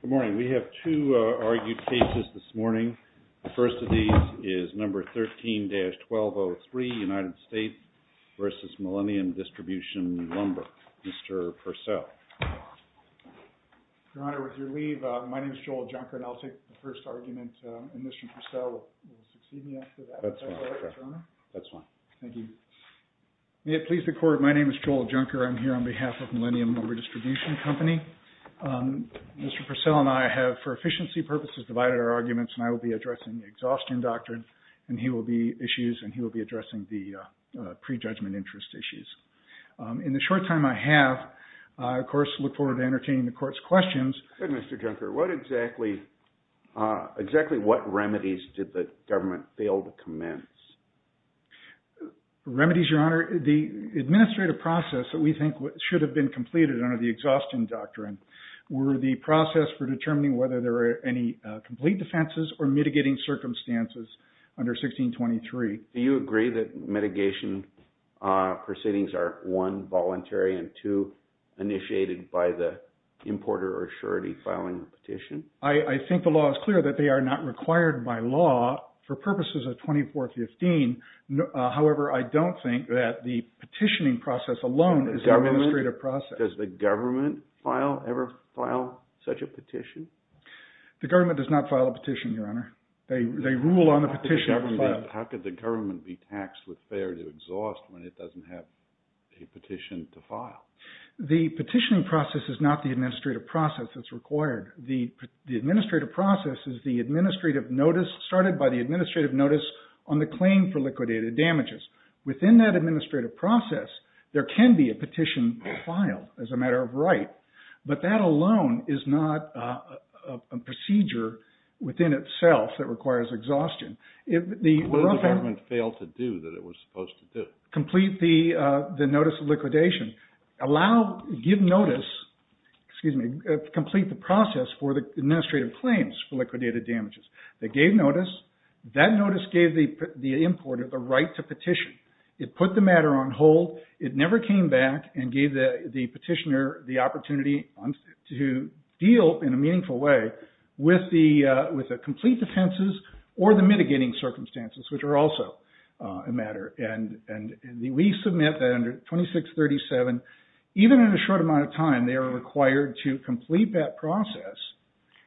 Good morning. We have two argued cases this morning. The first of these is number 13-1203, United States v. Millenium Distribution Lumber. Mr. Purcell. Your Honor, with your leave, my name is Joel Junker, and I'll take the first argument, and Mr. Purcell will succeed me after that. That's fine. That's fine. Thank you. May it please the Court, my name is Joel Junker. I'm here on behalf of Millenium Lumber Distribution Company. Mr. Purcell and I have, for efficiency purposes, divided our arguments, and I will be addressing the exhaustion doctrine, and he will be addressing the prejudgment interest issues. In the short time I have, I, of course, look forward to entertaining the Court's questions. Good, Mr. Junker. What exactly – exactly what remedies did the government fail to commence? Remedies, Your Honor, the administrative process that we think should have been completed under the exhaustion doctrine were the process for determining whether there were any complete defenses or mitigating circumstances under 1623. Do you agree that mitigation proceedings are, one, voluntary, and two, initiated by the importer or surety filing the petition? I think the law is clear that they are not required by law for purposes of 2415. However, I don't think that the petitioning process alone is an administrative process. Does the government ever file such a petition? The government does not file a petition, Your Honor. They rule on the petition. How could the government be taxed with fair to exhaust when it doesn't have a petition to file? The petitioning process is not the administrative process that's required. The administrative process is the administrative notice started by the administrative notice on the claim for liquidated damages. Within that administrative process, there can be a petition filed as a matter of right. But that alone is not a procedure within itself that requires exhaustion. What did the government fail to do that it was supposed to do? Complete the notice of liquidation. Allow, give notice, excuse me, complete the process for the administrative claims for liquidated damages. They gave notice. That notice gave the importer the right to petition. It put the matter on hold. It never came back and gave the petitioner the opportunity to deal in a meaningful way with the complete defenses or the mitigating circumstances, which are also a matter. And we submit that under 2637, even in a short amount of time, they are required to complete that process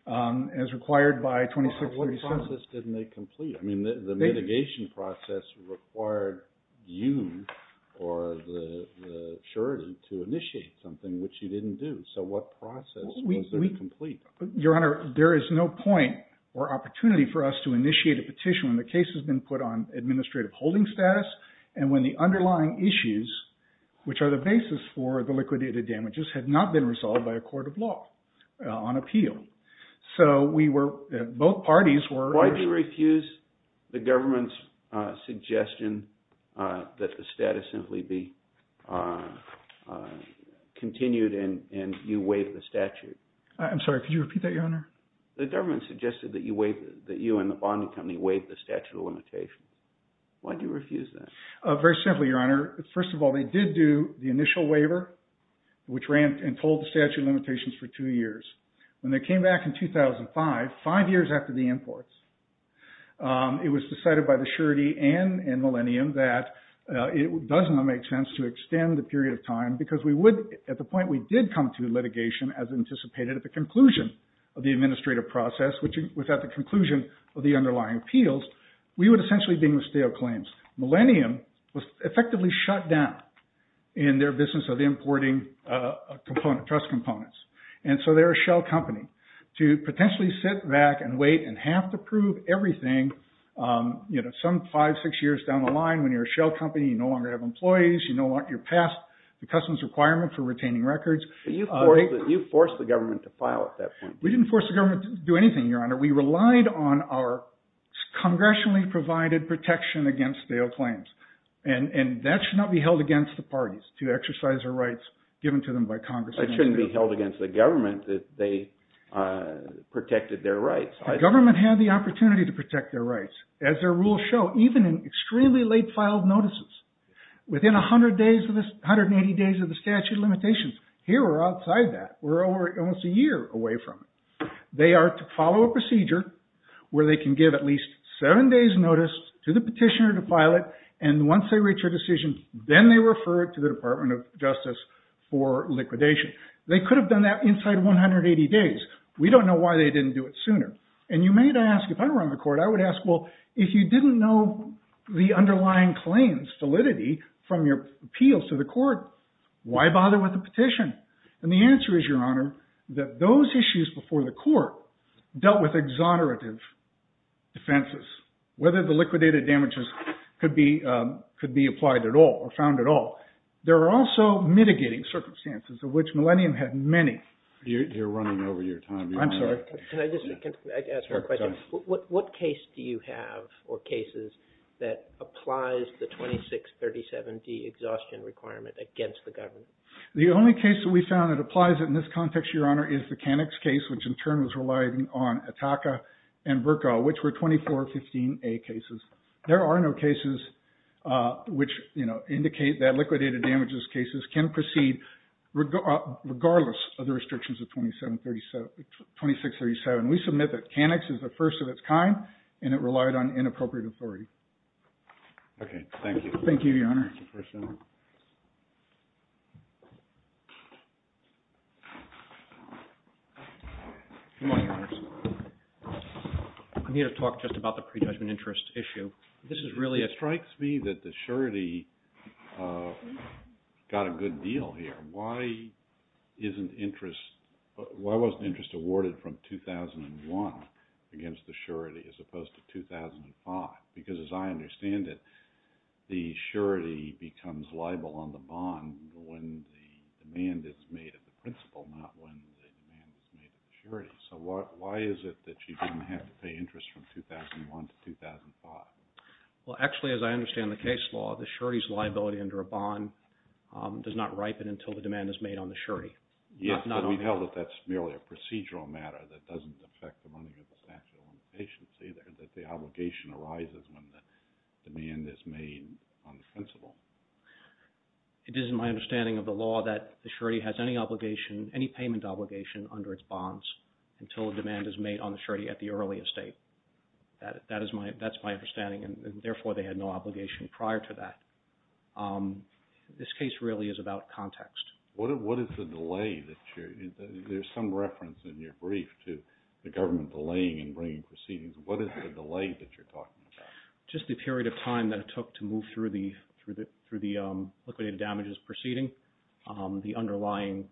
as required by 2637. What process didn't they complete? I mean, the mitigation process required you or the surety to initiate something, which you didn't do. So what process was there to complete? Your Honor, there is no point or opportunity for us to initiate a petition when the case has been put on administrative holding status and when the underlying issues, which are the basis for the liquidated damages, had not been resolved by a court of law on appeal. So we were, both parties were. Why do you refuse the government's suggestion that the status simply be continued and you waive the statute? I'm sorry, could you repeat that, Your Honor? The government suggested that you and the bonding company waive the statute of limitations. Why do you refuse that? Very simply, Your Honor. First of all, they did do the initial waiver, which ran and told the statute of limitations for two years. When they came back in 2005, five years after the imports, it was decided by the surety and Millennium that it does not make sense to extend the period of time because we would, at the point we did come to litigation as anticipated at the conclusion of the administrative process, which was at the conclusion of the underlying appeals, we would essentially be in the state of claims. Millennium was effectively shut down in their business of importing trust components. And so they're a shell company. To potentially sit back and wait and have to prove everything, you know, some five, six years down the line when you're a shell company, you no longer have employees, you're past the customs requirement for retaining records. You forced the government to file at that point. We didn't force the government to do anything, Your Honor. We relied on our congressionally provided protection against stale claims. And that should not be held against the parties to exercise their rights given to them by Congress. It shouldn't be held against the government that they protected their rights. The government had the opportunity to protect their rights. As their rules show, even in extremely late filed notices, within 180 days of the statute of limitations, here we're outside that. We're almost a year away from it. They are to follow a procedure where they can give at least seven days' notice to the petitioner to file it, and once they reach a decision, then they refer it to the Department of Justice for liquidation. They could have done that inside 180 days. We don't know why they didn't do it sooner. And you may ask, if I were on the court, I would ask, well, if you didn't know the underlying claims validity from your appeals to the court, why bother with the petition? And the answer is, Your Honor, that those issues before the court dealt with exonerative defenses, whether the liquidated damages could be applied at all or found at all. There are also mitigating circumstances of which Millennium had many. You're running over your time. I'm sorry. Can I just ask one question? Go ahead. What case do you have or cases that applies the 2637D exhaustion requirement against the government? The only case that we found that applies it in this context, Your Honor, is the Canix case, which in turn was relying on Ataka and Bercow, which were 2415A cases. There are no cases which indicate that liquidated damages cases can proceed regardless of the restrictions of 2637. We submit that Canix is the first of its kind, and it relied on inappropriate authority. Okay. Thank you. Thank you, Your Honor. Good morning, Your Honors. I need to talk just about the pre-judgment interest issue. This is really a – It strikes me that the surety got a good deal here. Why isn't interest – why wasn't interest awarded from 2001 against the surety as opposed to 2005? Because as I understand it, the surety becomes liable on the bond when the demand is made at the principal, not when the demand is made at the surety. So why is it that you didn't have to pay interest from 2001 to 2005? Well, actually, as I understand the case law, the surety's liability under a bond does not ripen until the demand is made on the surety. Yes, but we know that that's merely a procedural matter that doesn't affect the money or the statute of limitations either, that the obligation arises when the demand is made on the principal. It isn't my understanding of the law that the surety has any obligation, any payment obligation under its bonds until a demand is made on the surety at the earliest date. That is my – that's my understanding, and therefore they had no obligation prior to that. This case really is about context. What is the delay that you're – there's some reference in your brief to the government delaying and bringing proceedings. What is the delay that you're talking about? Just the period of time that it took to move through the liquidated damages proceeding, the underlying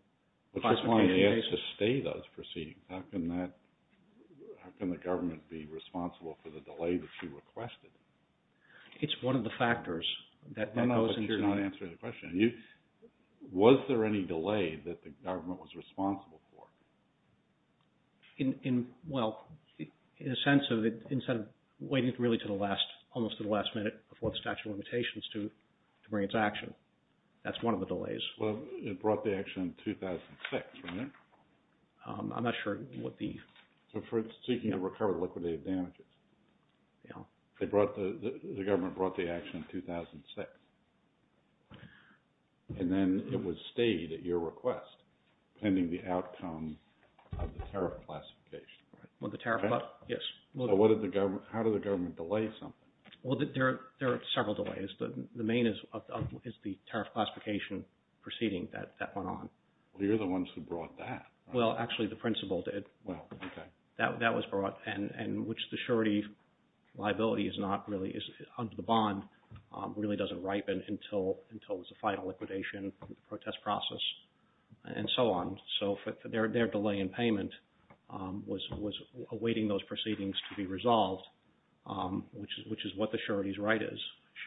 classified cases. But that's why they had to stay those proceedings. How can that – how can the government be responsible for the delay that you requested? It's one of the factors that – No, no, but you're not answering the question. Was there any delay that the government was responsible for? In – well, in a sense of it, instead of waiting really to the last – almost to the last minute before the statute of limitations to bring its action. That's one of the delays. Well, it brought the action in 2006, right? I'm not sure what the – So for seeking to recover liquidated damages. They brought the – the government brought the action in 2006. And then it was stayed at your request pending the outcome of the tariff classification, right? Well, the tariff – yes. How did the government delay something? Well, there are several delays. The main is the tariff classification proceeding that went on. Well, you're the ones who brought that. Well, actually, the principal did. Well, okay. That was brought, and which the surety liability is not really – under the bond really doesn't ripen until it's a final liquidation, protest process, and so on. So their delay in payment was awaiting those proceedings to be resolved, which is what the surety's right is.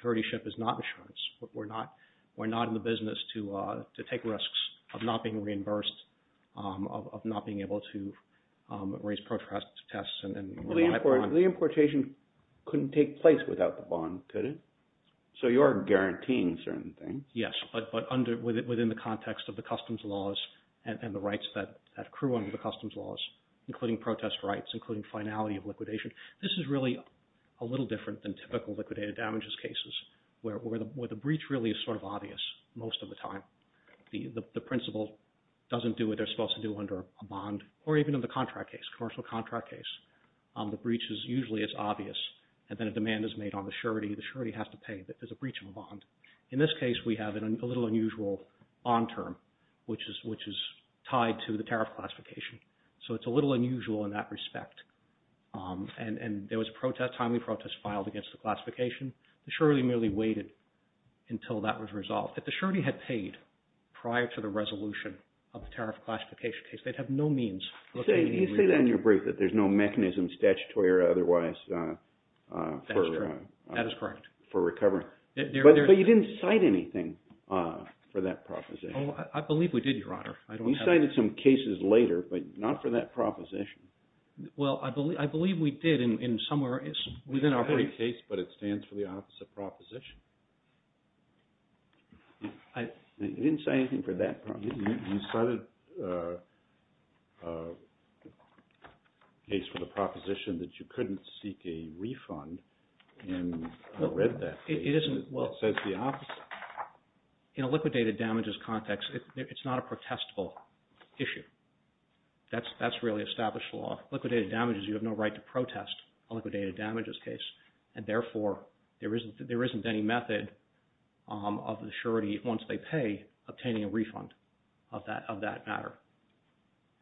Suretyship is not insurance. We're not in the business to take risks of not being reimbursed, of not being able to raise protest tests and rely upon – The importation couldn't take place without the bond, could it? So you are guaranteeing certain things. Yes, but under – within the context of the customs laws and the rights that accrue under the customs laws, including protest rights, including finality of liquidation. This is really a little different than typical liquidated damages cases where the breach really is sort of obvious most of the time. The principal doesn't do what they're supposed to do under a bond or even in the contract case, commercial contract case. The breach is usually as obvious, and then a demand is made on the surety. The surety has to pay. There's a breach of a bond. In this case, we have a little unusual on term, which is tied to the tariff classification. So it's a little unusual in that respect. And there was a protest, timely protest filed against the classification. The surety merely waited until that was resolved. If the surety had paid prior to the resolution of the tariff classification case, they'd have no means – You say that in your brief that there's no mechanism, statutory or otherwise, for – That is true. That is correct. For recovery. But you didn't cite anything for that proposition. I believe we did, Your Honor. You cited some cases later, but not for that proposition. Well, I believe we did in somewhere within our brief. It's not a case, but it stands for the opposite proposition. You didn't cite anything for that proposition. You cited a case for the proposition that you couldn't seek a refund, and I read that. It isn't – It says the opposite. In a liquidated damages context, it's not a protestable issue. That's really established law. Liquidated damages, you have no right to protest a liquidated damages case, and therefore there isn't any method of the surety, once they pay, obtaining a refund of that matter.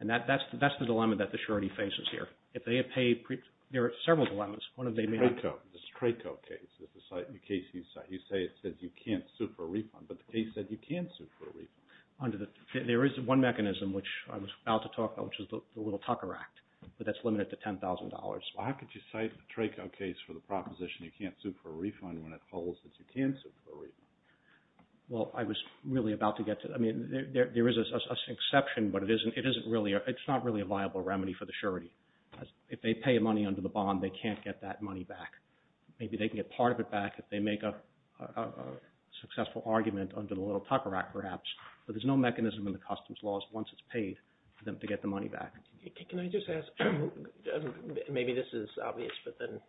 And that's the dilemma that the surety faces here. If they have paid – there are several dilemmas. One of them may have – The Trako case is the case you cite. You say it says you can't sue for a refund, but the case said you can sue for a refund. There is one mechanism, which I was about to talk about, which is the Little Tucker Act, but that's limited to $10,000. Well, how could you cite the Trako case for the proposition you can't sue for a refund when it holds that you can sue for a refund? Well, I was really about to get to – I mean, there is an exception, but it isn't really – it's not really a viable remedy for the surety. If they pay money under the bond, they can't get that money back. Maybe they can get part of it back if they make a successful argument under the Little Tucker Act, perhaps, but there's no mechanism in the customs laws once it's paid for them to get the money back. Can I just ask – maybe this is obvious, but then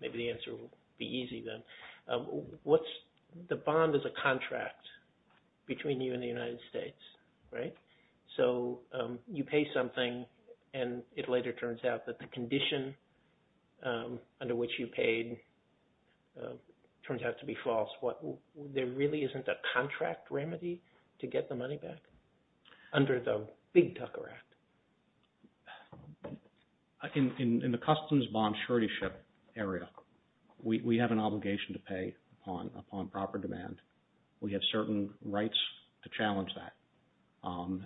maybe the answer will be easy then. What's – the bond is a contract between you and the United States, right? So you pay something, and it later turns out that the condition under which you paid turns out to be false. There really isn't a contract remedy to get the money back under the Big Tucker Act? In the customs bond surety area, we have an obligation to pay upon proper demand. We have certain rights to challenge that.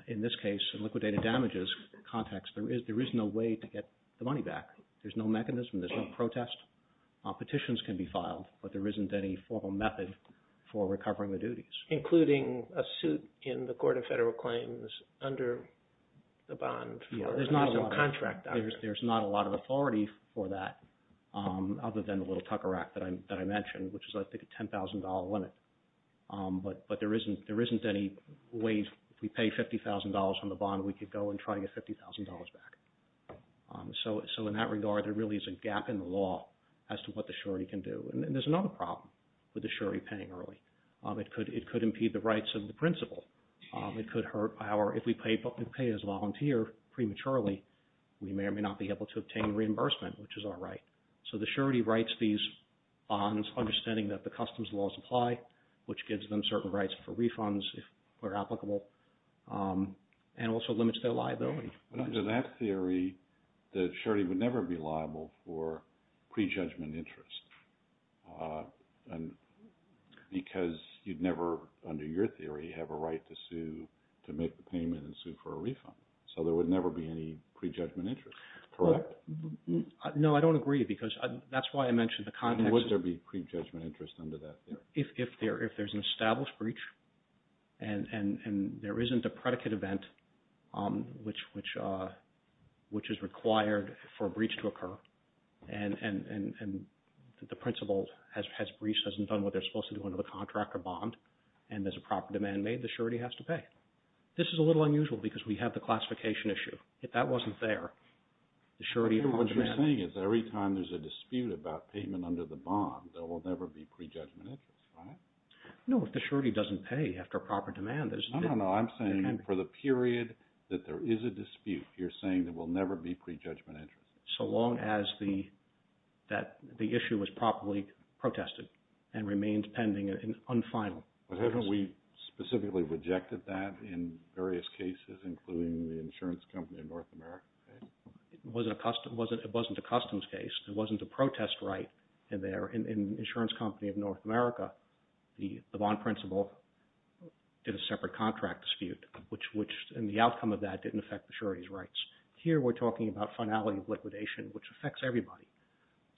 In this case, in liquidated damages context, there is no way to get the money back. There's no mechanism. There's no protest. Petitions can be filed, but there isn't any formal method for recovering the duties. Including a suit in the Court of Federal Claims under the bond? There's not a lot of authority for that other than the Little Tucker Act that I mentioned, which is, I think, a $10,000 limit. But there isn't any way if we pay $50,000 from the bond, we could go and try to get $50,000 back. So in that regard, there really is a gap in the law as to what the surety can do. And there's another problem with the surety paying early. It could impede the rights of the principal. It could hurt our – if we pay as a volunteer prematurely, we may or may not be able to obtain reimbursement, which is our right. So the surety writes these bonds understanding that the customs laws apply, which gives them certain rights for refunds if they're applicable, and also limits their liability. Under that theory, the surety would never be liable for prejudgment interest because you'd never, under your theory, have a right to sue to make the payment and sue for a refund. So there would never be any prejudgment interest, correct? No, I don't agree because that's why I mentioned the context. Would there be prejudgment interest under that theory? If there's an established breach and there isn't a predicate event, which is required for a breach to occur, and the principal has breached, hasn't done what they're supposed to do under the contract or bond, and there's a proper demand made, the surety has to pay. This is a little unusual because we have the classification issue. If that wasn't there, the surety… What you're saying is every time there's a dispute about payment under the bond, there will never be prejudgment interest, right? No, if the surety doesn't pay after a proper demand, there's… No, no, no. I'm saying for the period that there is a dispute, you're saying there will never be prejudgment interest. So long as the issue was properly protested and remained pending and unfinal. But haven't we specifically rejected that in various cases, including the insurance company of North America case? It wasn't a customs case. It wasn't a protest right in the insurance company of North America. The bond principal did a separate contract dispute, which in the outcome of that didn't affect the surety's rights. Here we're talking about finality of liquidation, which affects everybody.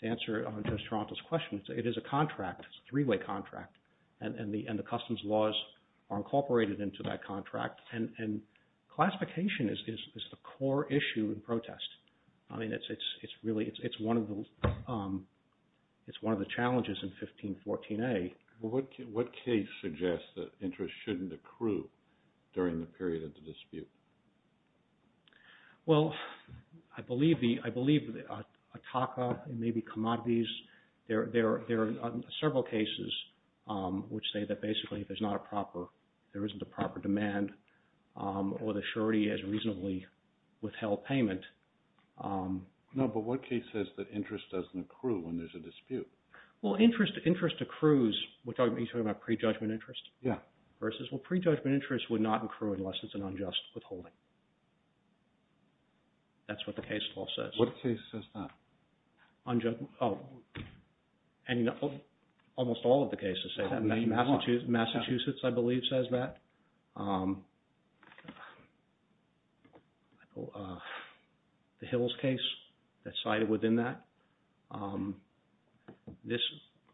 To answer Judge Toronto's question, it is a contract. It's a three-way contract. And the customs laws are incorporated into that contract. And classification is the core issue in protest. I mean, it's really one of the challenges in 1514A. What case suggests that interest shouldn't accrue during the period of the dispute? Well, I believe the – I believe that a TACA and maybe commodities, there are several cases which say that basically there's not a proper – there isn't a proper demand or the surety has reasonably withheld payment. No, but what case says that interest doesn't accrue when there's a dispute? Well, interest accrues – are you talking about prejudgment interest? Yeah. Versus, well, prejudgment interest would not accrue unless it's an unjust withholding. That's what the case law says. What case says that? Almost all of the cases say that. Massachusetts, I believe, says that. The Hills case that's cited within that. This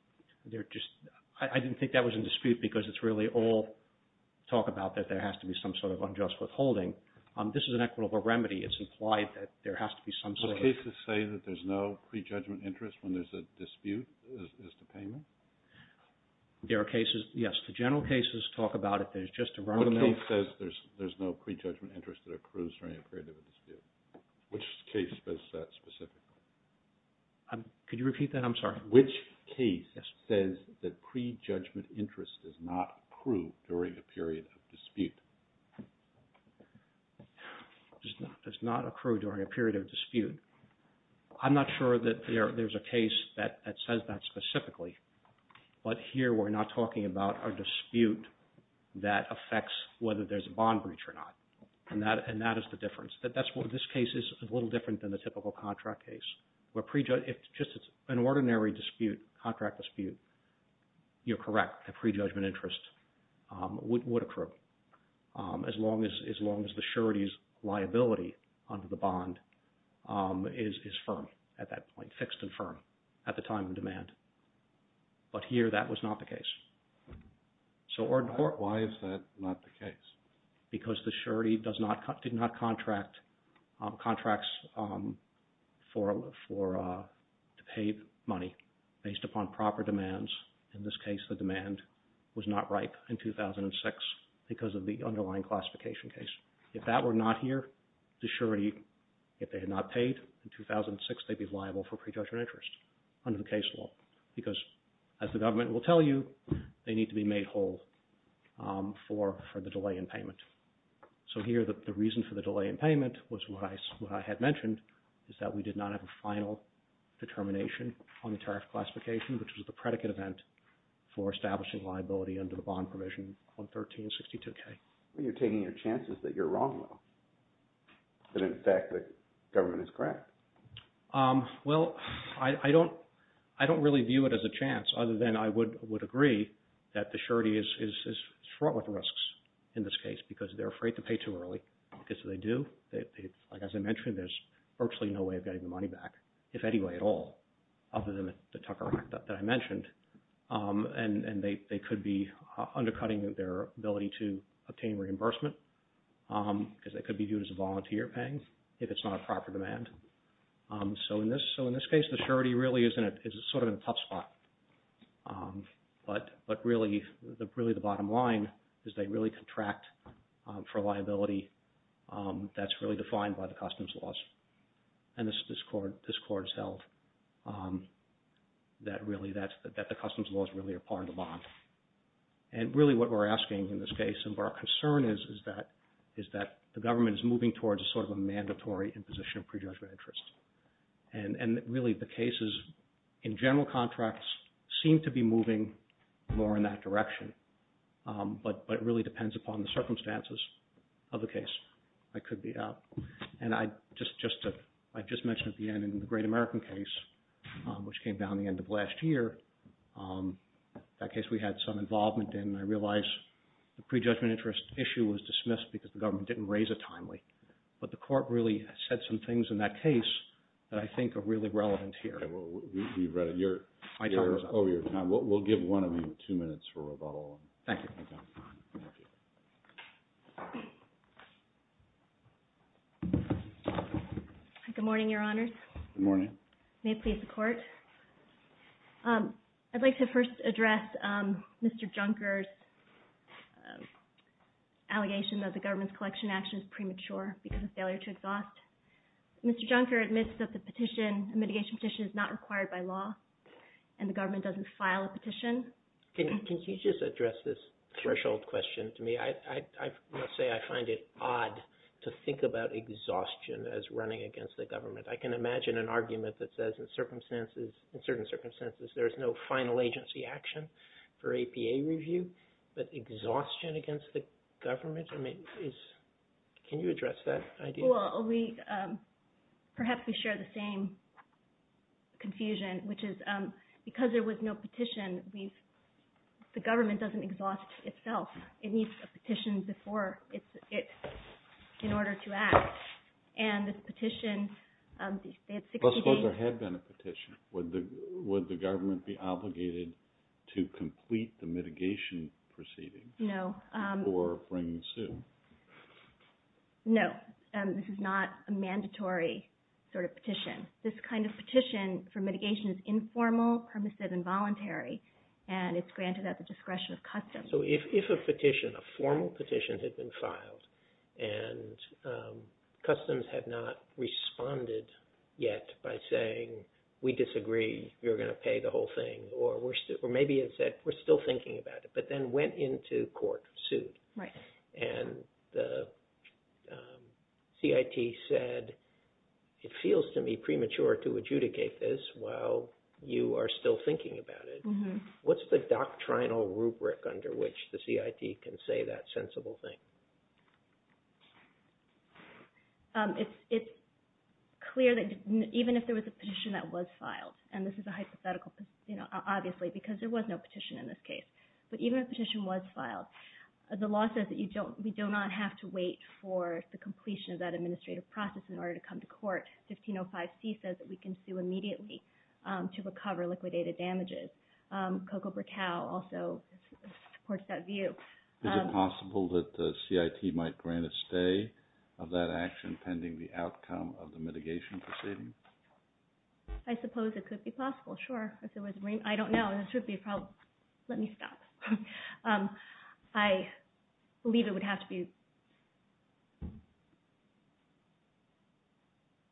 – they're just – I didn't think that was in dispute because it's really all talk about that there has to be some sort of unjust withholding. This is an equitable remedy. It's implied that there has to be some sort of – Do cases say that there's no prejudgment interest when there's a dispute as to payment? There are cases – yes, the general cases talk about it. There's just a run-of-the-mill – What case says there's no prejudgment interest that accrues during a period of a dispute? Which case says that specifically? Could you repeat that? I'm sorry. Which case says that prejudgment interest does not accrue during a period of dispute? Does not accrue during a period of dispute. I'm not sure that there's a case that says that specifically. But here we're not talking about a dispute that affects whether there's a bond breach or not. And that is the difference. This case is a little different than the typical contract case. If it's just an ordinary dispute, contract dispute, you're correct. The prejudgment interest would accrue as long as the surety's liability under the bond is firm at that point, fixed and firm at the time of demand. But here that was not the case. Why is that not the case? Because the surety did not contract contracts to pay money based upon proper demands. In this case, the demand was not ripe in 2006 because of the underlying classification case. If that were not here, the surety, if they had not paid in 2006, they'd be liable for prejudgment interest under the case law. Because as the government will tell you, they need to be made whole for the delay in payment. So here the reason for the delay in payment was what I had mentioned, is that we did not have a final determination on the tariff classification, which was the predicate event for establishing liability under the bond provision on 1362K. You're taking your chances that you're wrong though. And in fact the government is correct. Well, I don't really view it as a chance other than I would agree that the surety is fraught with risks in this case because they're afraid to pay too early because if they do, like as I mentioned, there's virtually no way of getting the money back, if any way at all, other than the Tucker Act that I mentioned. And they could be undercutting their ability to obtain reimbursement because they could be viewed as a volunteer paying if it's not a proper demand. So in this case, the surety really is sort of in a tough spot. But really the bottom line is they really contract for liability that's really defined by the customs laws. And this court has held that the customs laws really are part of the bond. And really what we're asking in this case and what our concern is, is that the government is moving towards a sort of a mandatory imposition of prejudgment interest. And really the cases in general contracts seem to be moving more in that direction. But it really depends upon the circumstances of the case. And I just mentioned at the end in the Great American case, which came down at the end of last year, that case we had some involvement in. I realize the prejudgment interest issue was dismissed because the government didn't raise it timely. But the court really said some things in that case that I think are really relevant here. Okay. Well, you've read it. You're over your time. We'll give one of you two minutes for rebuttal. Thank you. Thank you. Good morning, Your Honors. Good morning. May it please the Court. I'd like to first address Mr. Junker's allegation that the government's collection action is premature because of failure to exhaust. Mr. Junker admits that the mitigation petition is not required by law and the government doesn't file a petition. Can you just address this threshold question to me? I must say I find it odd to think about exhaustion as running against the government. I can imagine an argument that says in certain circumstances there is no final agency action for APA review, but exhaustion against the government? Can you address that idea? Well, perhaps we share the same confusion, which is because there was no petition, the government doesn't exhaust itself. It needs a petition in order to act. I suppose there had been a petition. Would the government be obligated to complete the mitigation proceedings? No. Or bring the suit? No, this is not a mandatory sort of petition. This kind of petition for mitigation is informal, permissive, and voluntary, and it's granted at the discretion of customs. So if a formal petition had been filed and customs had not responded yet by saying, we disagree, you're going to pay the whole thing, or maybe it said, we're still thinking about it, but then went into court, sued, and the CIT said, it feels to me premature to adjudicate this while you are still thinking about it. What's the doctrinal rubric under which the CIT can say that sensible thing? It's clear that even if there was a petition that was filed, and this is a hypothetical obviously because there was no petition in this case, but even if a petition was filed, the law says that we do not have to wait for the completion of that administrative process in order to come to court. But 1505C says that we can sue immediately to recover liquidated damages. COCO per cal also supports that view. Is it possible that the CIT might grant a stay of that action pending the outcome of the mitigation proceeding? I suppose it could be possible, sure. I don't know. This would be a problem. Let me stop. I believe it would have to be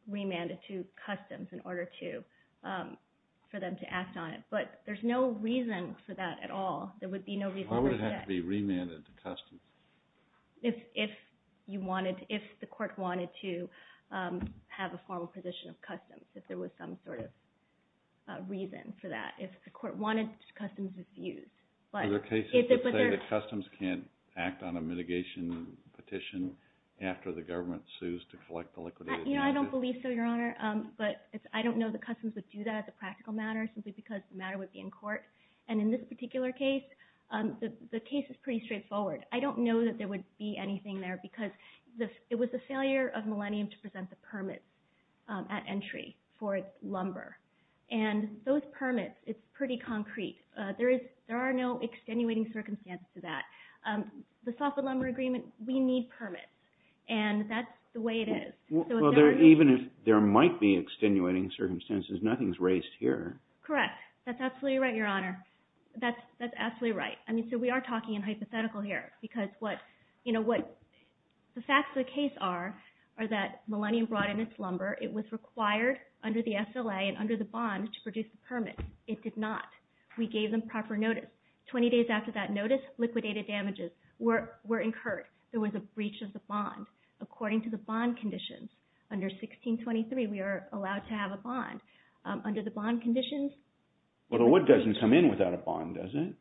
remanded to customs in order for them to act on it. But there's no reason for that at all. Why would it have to be remanded to customs? If the court wanted to have a formal position of customs, if there was some sort of reason for that. If the court wanted customs, it's used. Are there cases that say that customs can't act on a mitigation petition after the government sues to collect the liquidated damages? I don't believe so, Your Honor, but I don't know that customs would do that as a practical matter simply because the matter would be in court. And in this particular case, the case is pretty straightforward. I don't know that there would be anything there because it was the failure of Millennium to present the permit at entry for its lumber. And those permits, it's pretty concrete. There are no extenuating circumstances to that. The Soffit Lumber Agreement, we need permits, and that's the way it is. Well, even if there might be extenuating circumstances, nothing's raised here. Correct. That's absolutely right, Your Honor. That's absolutely right. I mean, so we are talking in hypothetical here because what the facts of the case are are that Millennium brought in its lumber. It was required under the SLA and under the bond to produce the permit. It did not. We gave them proper notice. Twenty days after that notice, liquidated damages were incurred. There was a breach of the bond. According to the bond conditions, under 1623, we are allowed to have a bond. Under the bond conditions, Well, the wood doesn't come in without a bond, does it?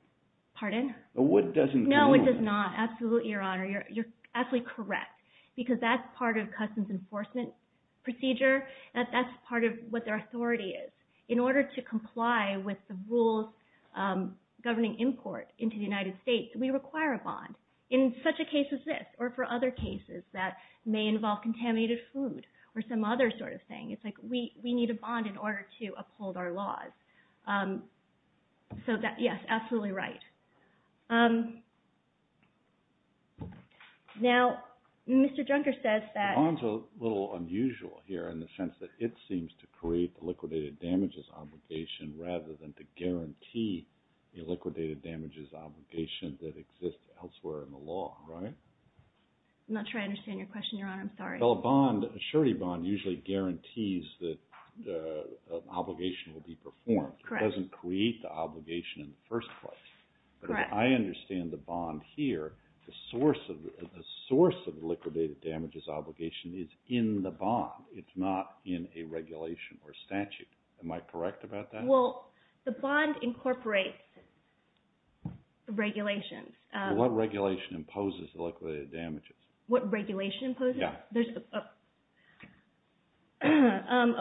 The wood doesn't come in. No, it does not. Absolutely, Your Honor. You're absolutely correct because that's part of customs enforcement procedure. That's part of what their authority is. In order to comply with the rules governing import into the United States, we require a bond in such a case as this or for other cases that may involve contaminated food or some other sort of thing. It's like we need a bond in order to uphold our laws. So, yes, absolutely right. Now, Mr. Junker says that The bond's a little unusual here in the sense that it seems to create liquidated damages obligation rather than to guarantee a liquidated damages obligation that exists elsewhere in the law, right? I'm not sure I understand your question, Your Honor. I'm sorry. Well, a bond, a surety bond, usually guarantees that an obligation will be performed. It doesn't create the obligation in the first place. Correct. I understand the bond here. The source of liquidated damages obligation is in the bond. It's not in a regulation or statute. Am I correct about that? Well, the bond incorporates regulations. What regulation imposes liquidated damages? What regulation imposes? Yeah.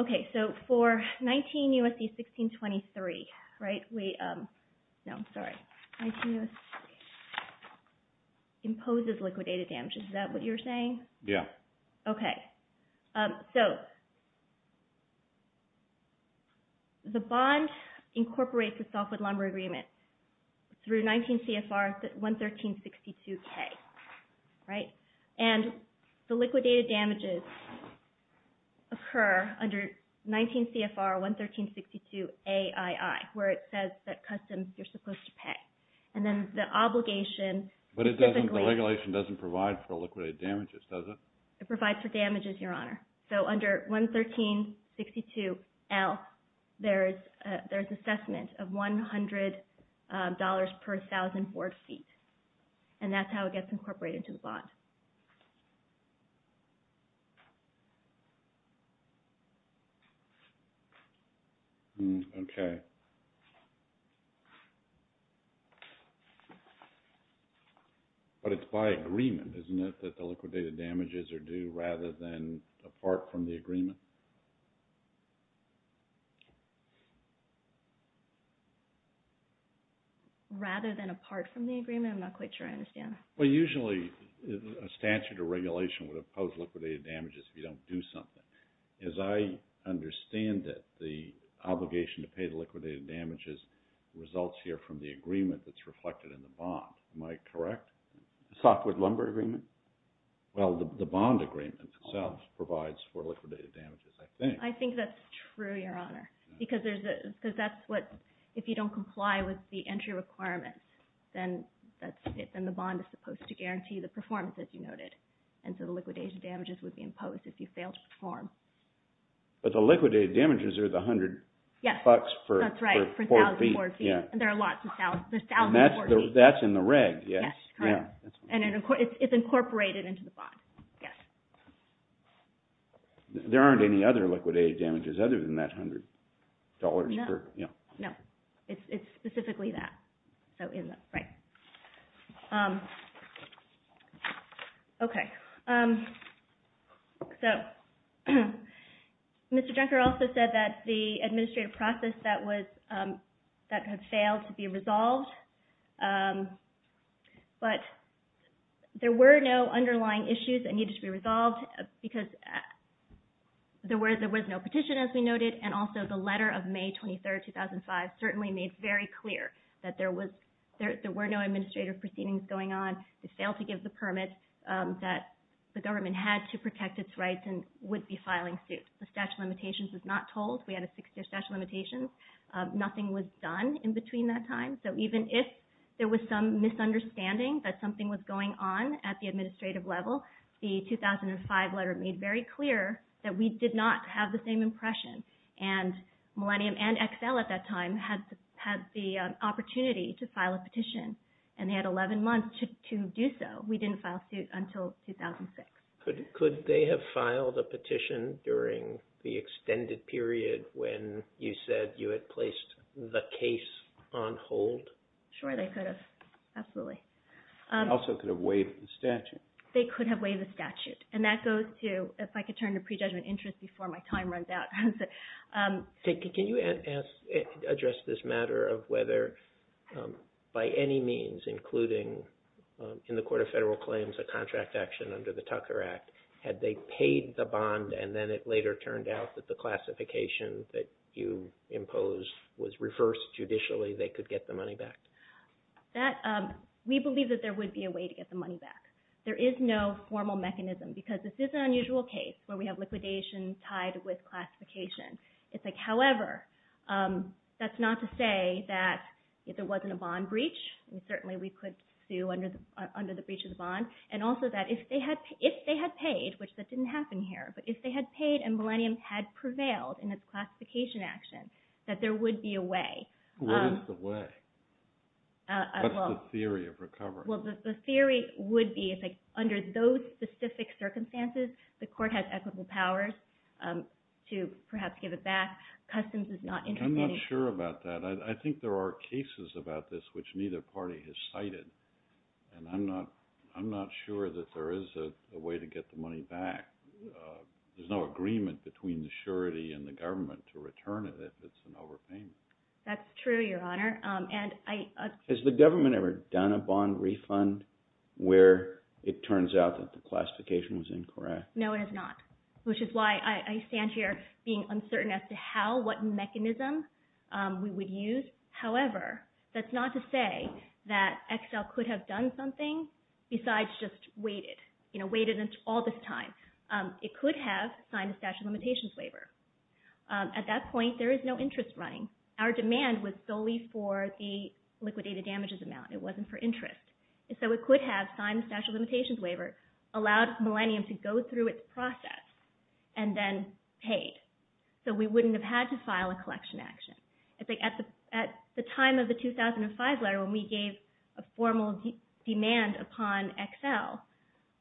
Okay, so for 19 U.S.C. 1623, right? No, sorry. 19 U.S.C. imposes liquidated damages. Is that what you're saying? Yeah. Okay. So, the bond incorporates a softwood lumber agreement through 19 CFR 11362K, right? And the liquidated damages occur under 19 CFR 11362AII, where it says that customs, you're supposed to pay. And then the obligation... But the regulation doesn't provide for liquidated damages, does it? It provides for damages, Your Honor. So, under 11362L, there's assessment of $100 per 1,000 board feet. And that's how it gets incorporated into the bond. Okay. But it's by agreement, isn't it, that the liquidated damages are due rather than apart from the agreement? Rather than apart from the agreement? I'm not quite sure I understand. Well, usually, a statute or regulation would impose liquidated damages if you don't do something. As I understand it, the obligation to pay the liquidated damages results here from the agreement that's reflected in the bond. Am I correct? The softwood lumber agreement? Well, the bond agreement itself provides for liquidated damages, I think. I think that's true, Your Honor. Because that's what, if you don't comply with the entry requirement, then the bond is supposed to guarantee the performance, as you noted. And so the liquidated damages would be imposed if you fail to perform. But the liquidated damages are the 100 bucks per board feet. Yes, that's right, per 1,000 board feet. There are lots of 1,000 board feet. That's in the reg, yes. Yes, correct. And it's incorporated into the bond, yes. There aren't any other liquidated damages other than that $100 per... No, no. It's specifically that. So, in the... right. Okay. So, Mr. Junker also said that the administrative process that had failed to be resolved, but there were no underlying issues that needed to be resolved because there was no petition, as we noted, and also the letter of May 23, 2005 certainly made very clear that there were no administrative proceedings going on. They failed to give the permit that the government had to protect its rights and would be filing suits. The statute of limitations was not told. We had a six-year statute of limitations. Nothing was done in between that time. So, even if there was some misunderstanding that something was going on at the administrative level, the 2005 letter made very clear that we did not have the same impression, and Millennium and Excel at that time had the opportunity to file a petition, and they had 11 months to do so. We didn't file suit until 2006. Could they have filed a petition during the extended period when you said you had placed the case on hold? Sure, they could have. Absolutely. They also could have waived the statute. They could have waived the statute, and that goes to, if I could turn to prejudgment interest before my time runs out. Can you address this matter of whether, by any means, including in the Court of Federal Claims a contract action under the Tucker Act, had they paid the bond and then it later turned out that the classification that you imposed was reversed judicially, they could get the money back? We believe that there would be a way to get the money back. There is no formal mechanism, because this is an unusual case where we have liquidation tied with classification. However, that's not to say that if there wasn't a bond breach, certainly we could sue under the breach of the bond, and also that if they had paid, which that didn't happen here, but if they had paid and Millennium had prevailed in its classification action, that there would be a way. What is the way? What's the theory of recovery? Well, the theory would be if, under those specific circumstances, the court has equitable powers to perhaps give it back. Customs is not interested in it. I'm not sure about that. I think there are cases about this which neither party has cited, and I'm not sure that there is a way to get the money back. There's no agreement between the surety and the government to return it if it's an overpayment. That's true, Your Honor. Has the government ever done a bond refund where it turns out that the classification was incorrect? No, it has not, which is why I stand here being uncertain as to how, what mechanism we would use. However, that's not to say that Excel could have done something besides just waited, waited all this time. It could have signed a statute of limitations waiver. At that point, there is no interest running. Our demand was solely for the liquidated damages amount. It wasn't for interest. So it could have signed a statute of limitations waiver, allowed Millennium to go through its process, and then paid. So we wouldn't have had to file a collection action. At the time of the 2005 letter, when we gave a formal demand upon Excel,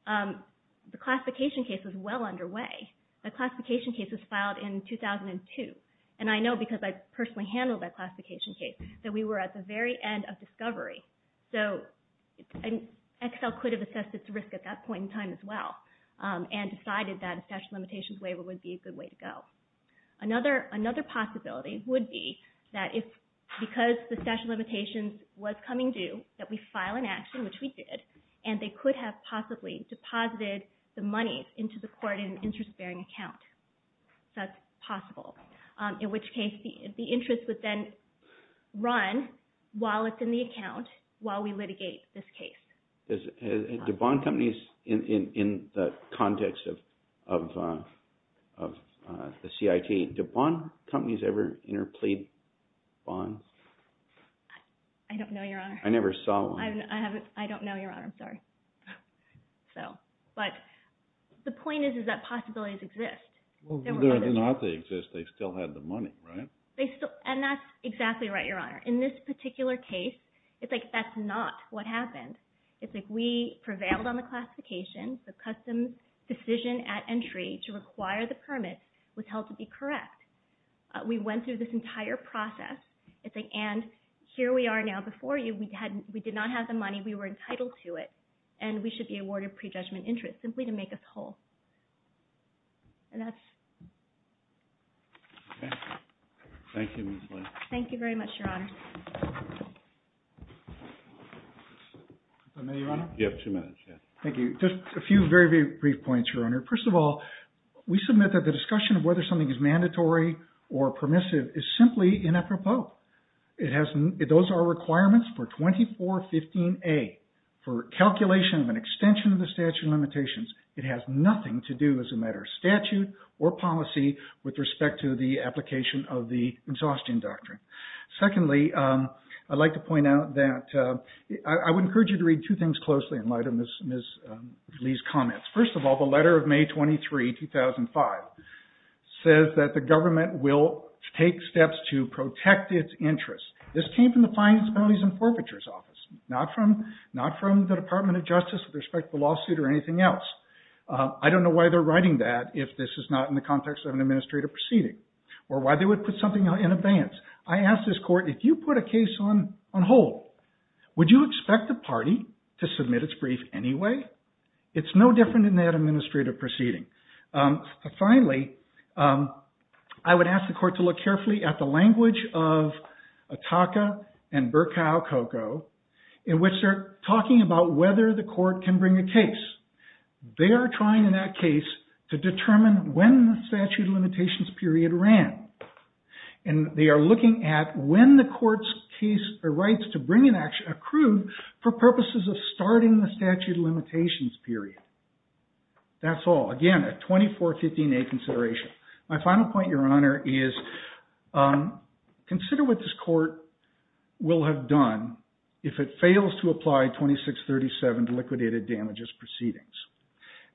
the classification case was well underway. The classification case was filed in 2002. And I know because I personally handled that classification case that we were at the very end of discovery. So Excel could have assessed its risk at that point in time as well and decided that a statute of limitations waiver would be a good way to go. Another possibility would be that because the statute of limitations was coming due, that we file an action, which we did, and they could have possibly deposited the money into the court in an interest-bearing account. That's possible. In which case, the interest would then run while it's in the account while we litigate this case. Do bond companies in the context of the CIT, do bond companies ever interplead bonds? I don't know, Your Honor. I never saw one. I don't know, Your Honor. I'm sorry. But the point is that possibilities exist. Whether or not they exist, they still have the money, right? And that's exactly right, Your Honor. In this particular case, it's like that's not what happened. It's like we prevailed on the classification. The customs decision at entry to require the permit was held to be correct. We went through this entire process. And here we are now before you. We did not have the money. We were entitled to it. And we should be awarded prejudgment interest simply to make us whole. And that's it. Okay. Thank you, Ms. Lin. Thank you very much, Your Honor. Is that me, Your Honor? You have two minutes, yes. Thank you. Just a few very, very brief points, Your Honor. First of all, we submit that the discussion of whether something is mandatory or permissive is simply inappropriate. Those are requirements for 2415A for calculation of an extension of the statute of limitations. It has nothing to do as a matter of statute or policy with respect to the application of the exhaustion doctrine. Secondly, I'd like to point out that I would encourage you to read two things closely in light of Ms. Lee's comments. First of all, the letter of May 23, 2005, says that the government will take steps to protect its interests. This came from the Finance, Penalties, and Forfeitures Office, not from the Department of Justice with respect to the lawsuit or anything else. I don't know why they're writing that if this is not in the context of an administrative proceeding or why they would put something in advance. I asked this court, if you put a case on hold, would you expect the party to submit its brief anyway? It's no different in that administrative proceeding. Finally, I would ask the court to look carefully at the language of Ataka and Burkow-Coco, in which they're talking about whether the court can bring a case. They are trying in that case to determine when the statute of limitations period ran. They are looking at when the court's rights to bring an action accrued for purposes of starting the statute of limitations period. That's all. Again, a 2415A consideration. My final point, Your Honor, is consider what this court will have done if it fails to apply 2637 to liquidated damages proceedings.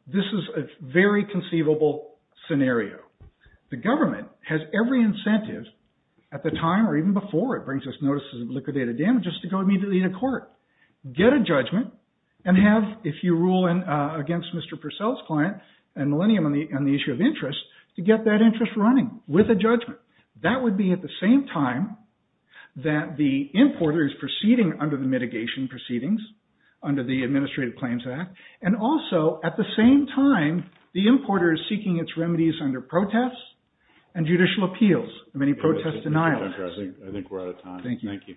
This is a very conceivable scenario. The government has every incentive at the time or even before it brings us notices of liquidated damages to go immediately to court. Get a judgment and have, if you rule against Mr. Purcell's client and Millennium on the issue of interest, to get that interest running with a judgment. That would be at the same time that the importer is proceeding under the mitigation proceedings under the Administrative Claims Act and also, at the same time, the importer is seeking its remedies under protests and judicial appeals and many protest denials. I think we're out of time. Thank you.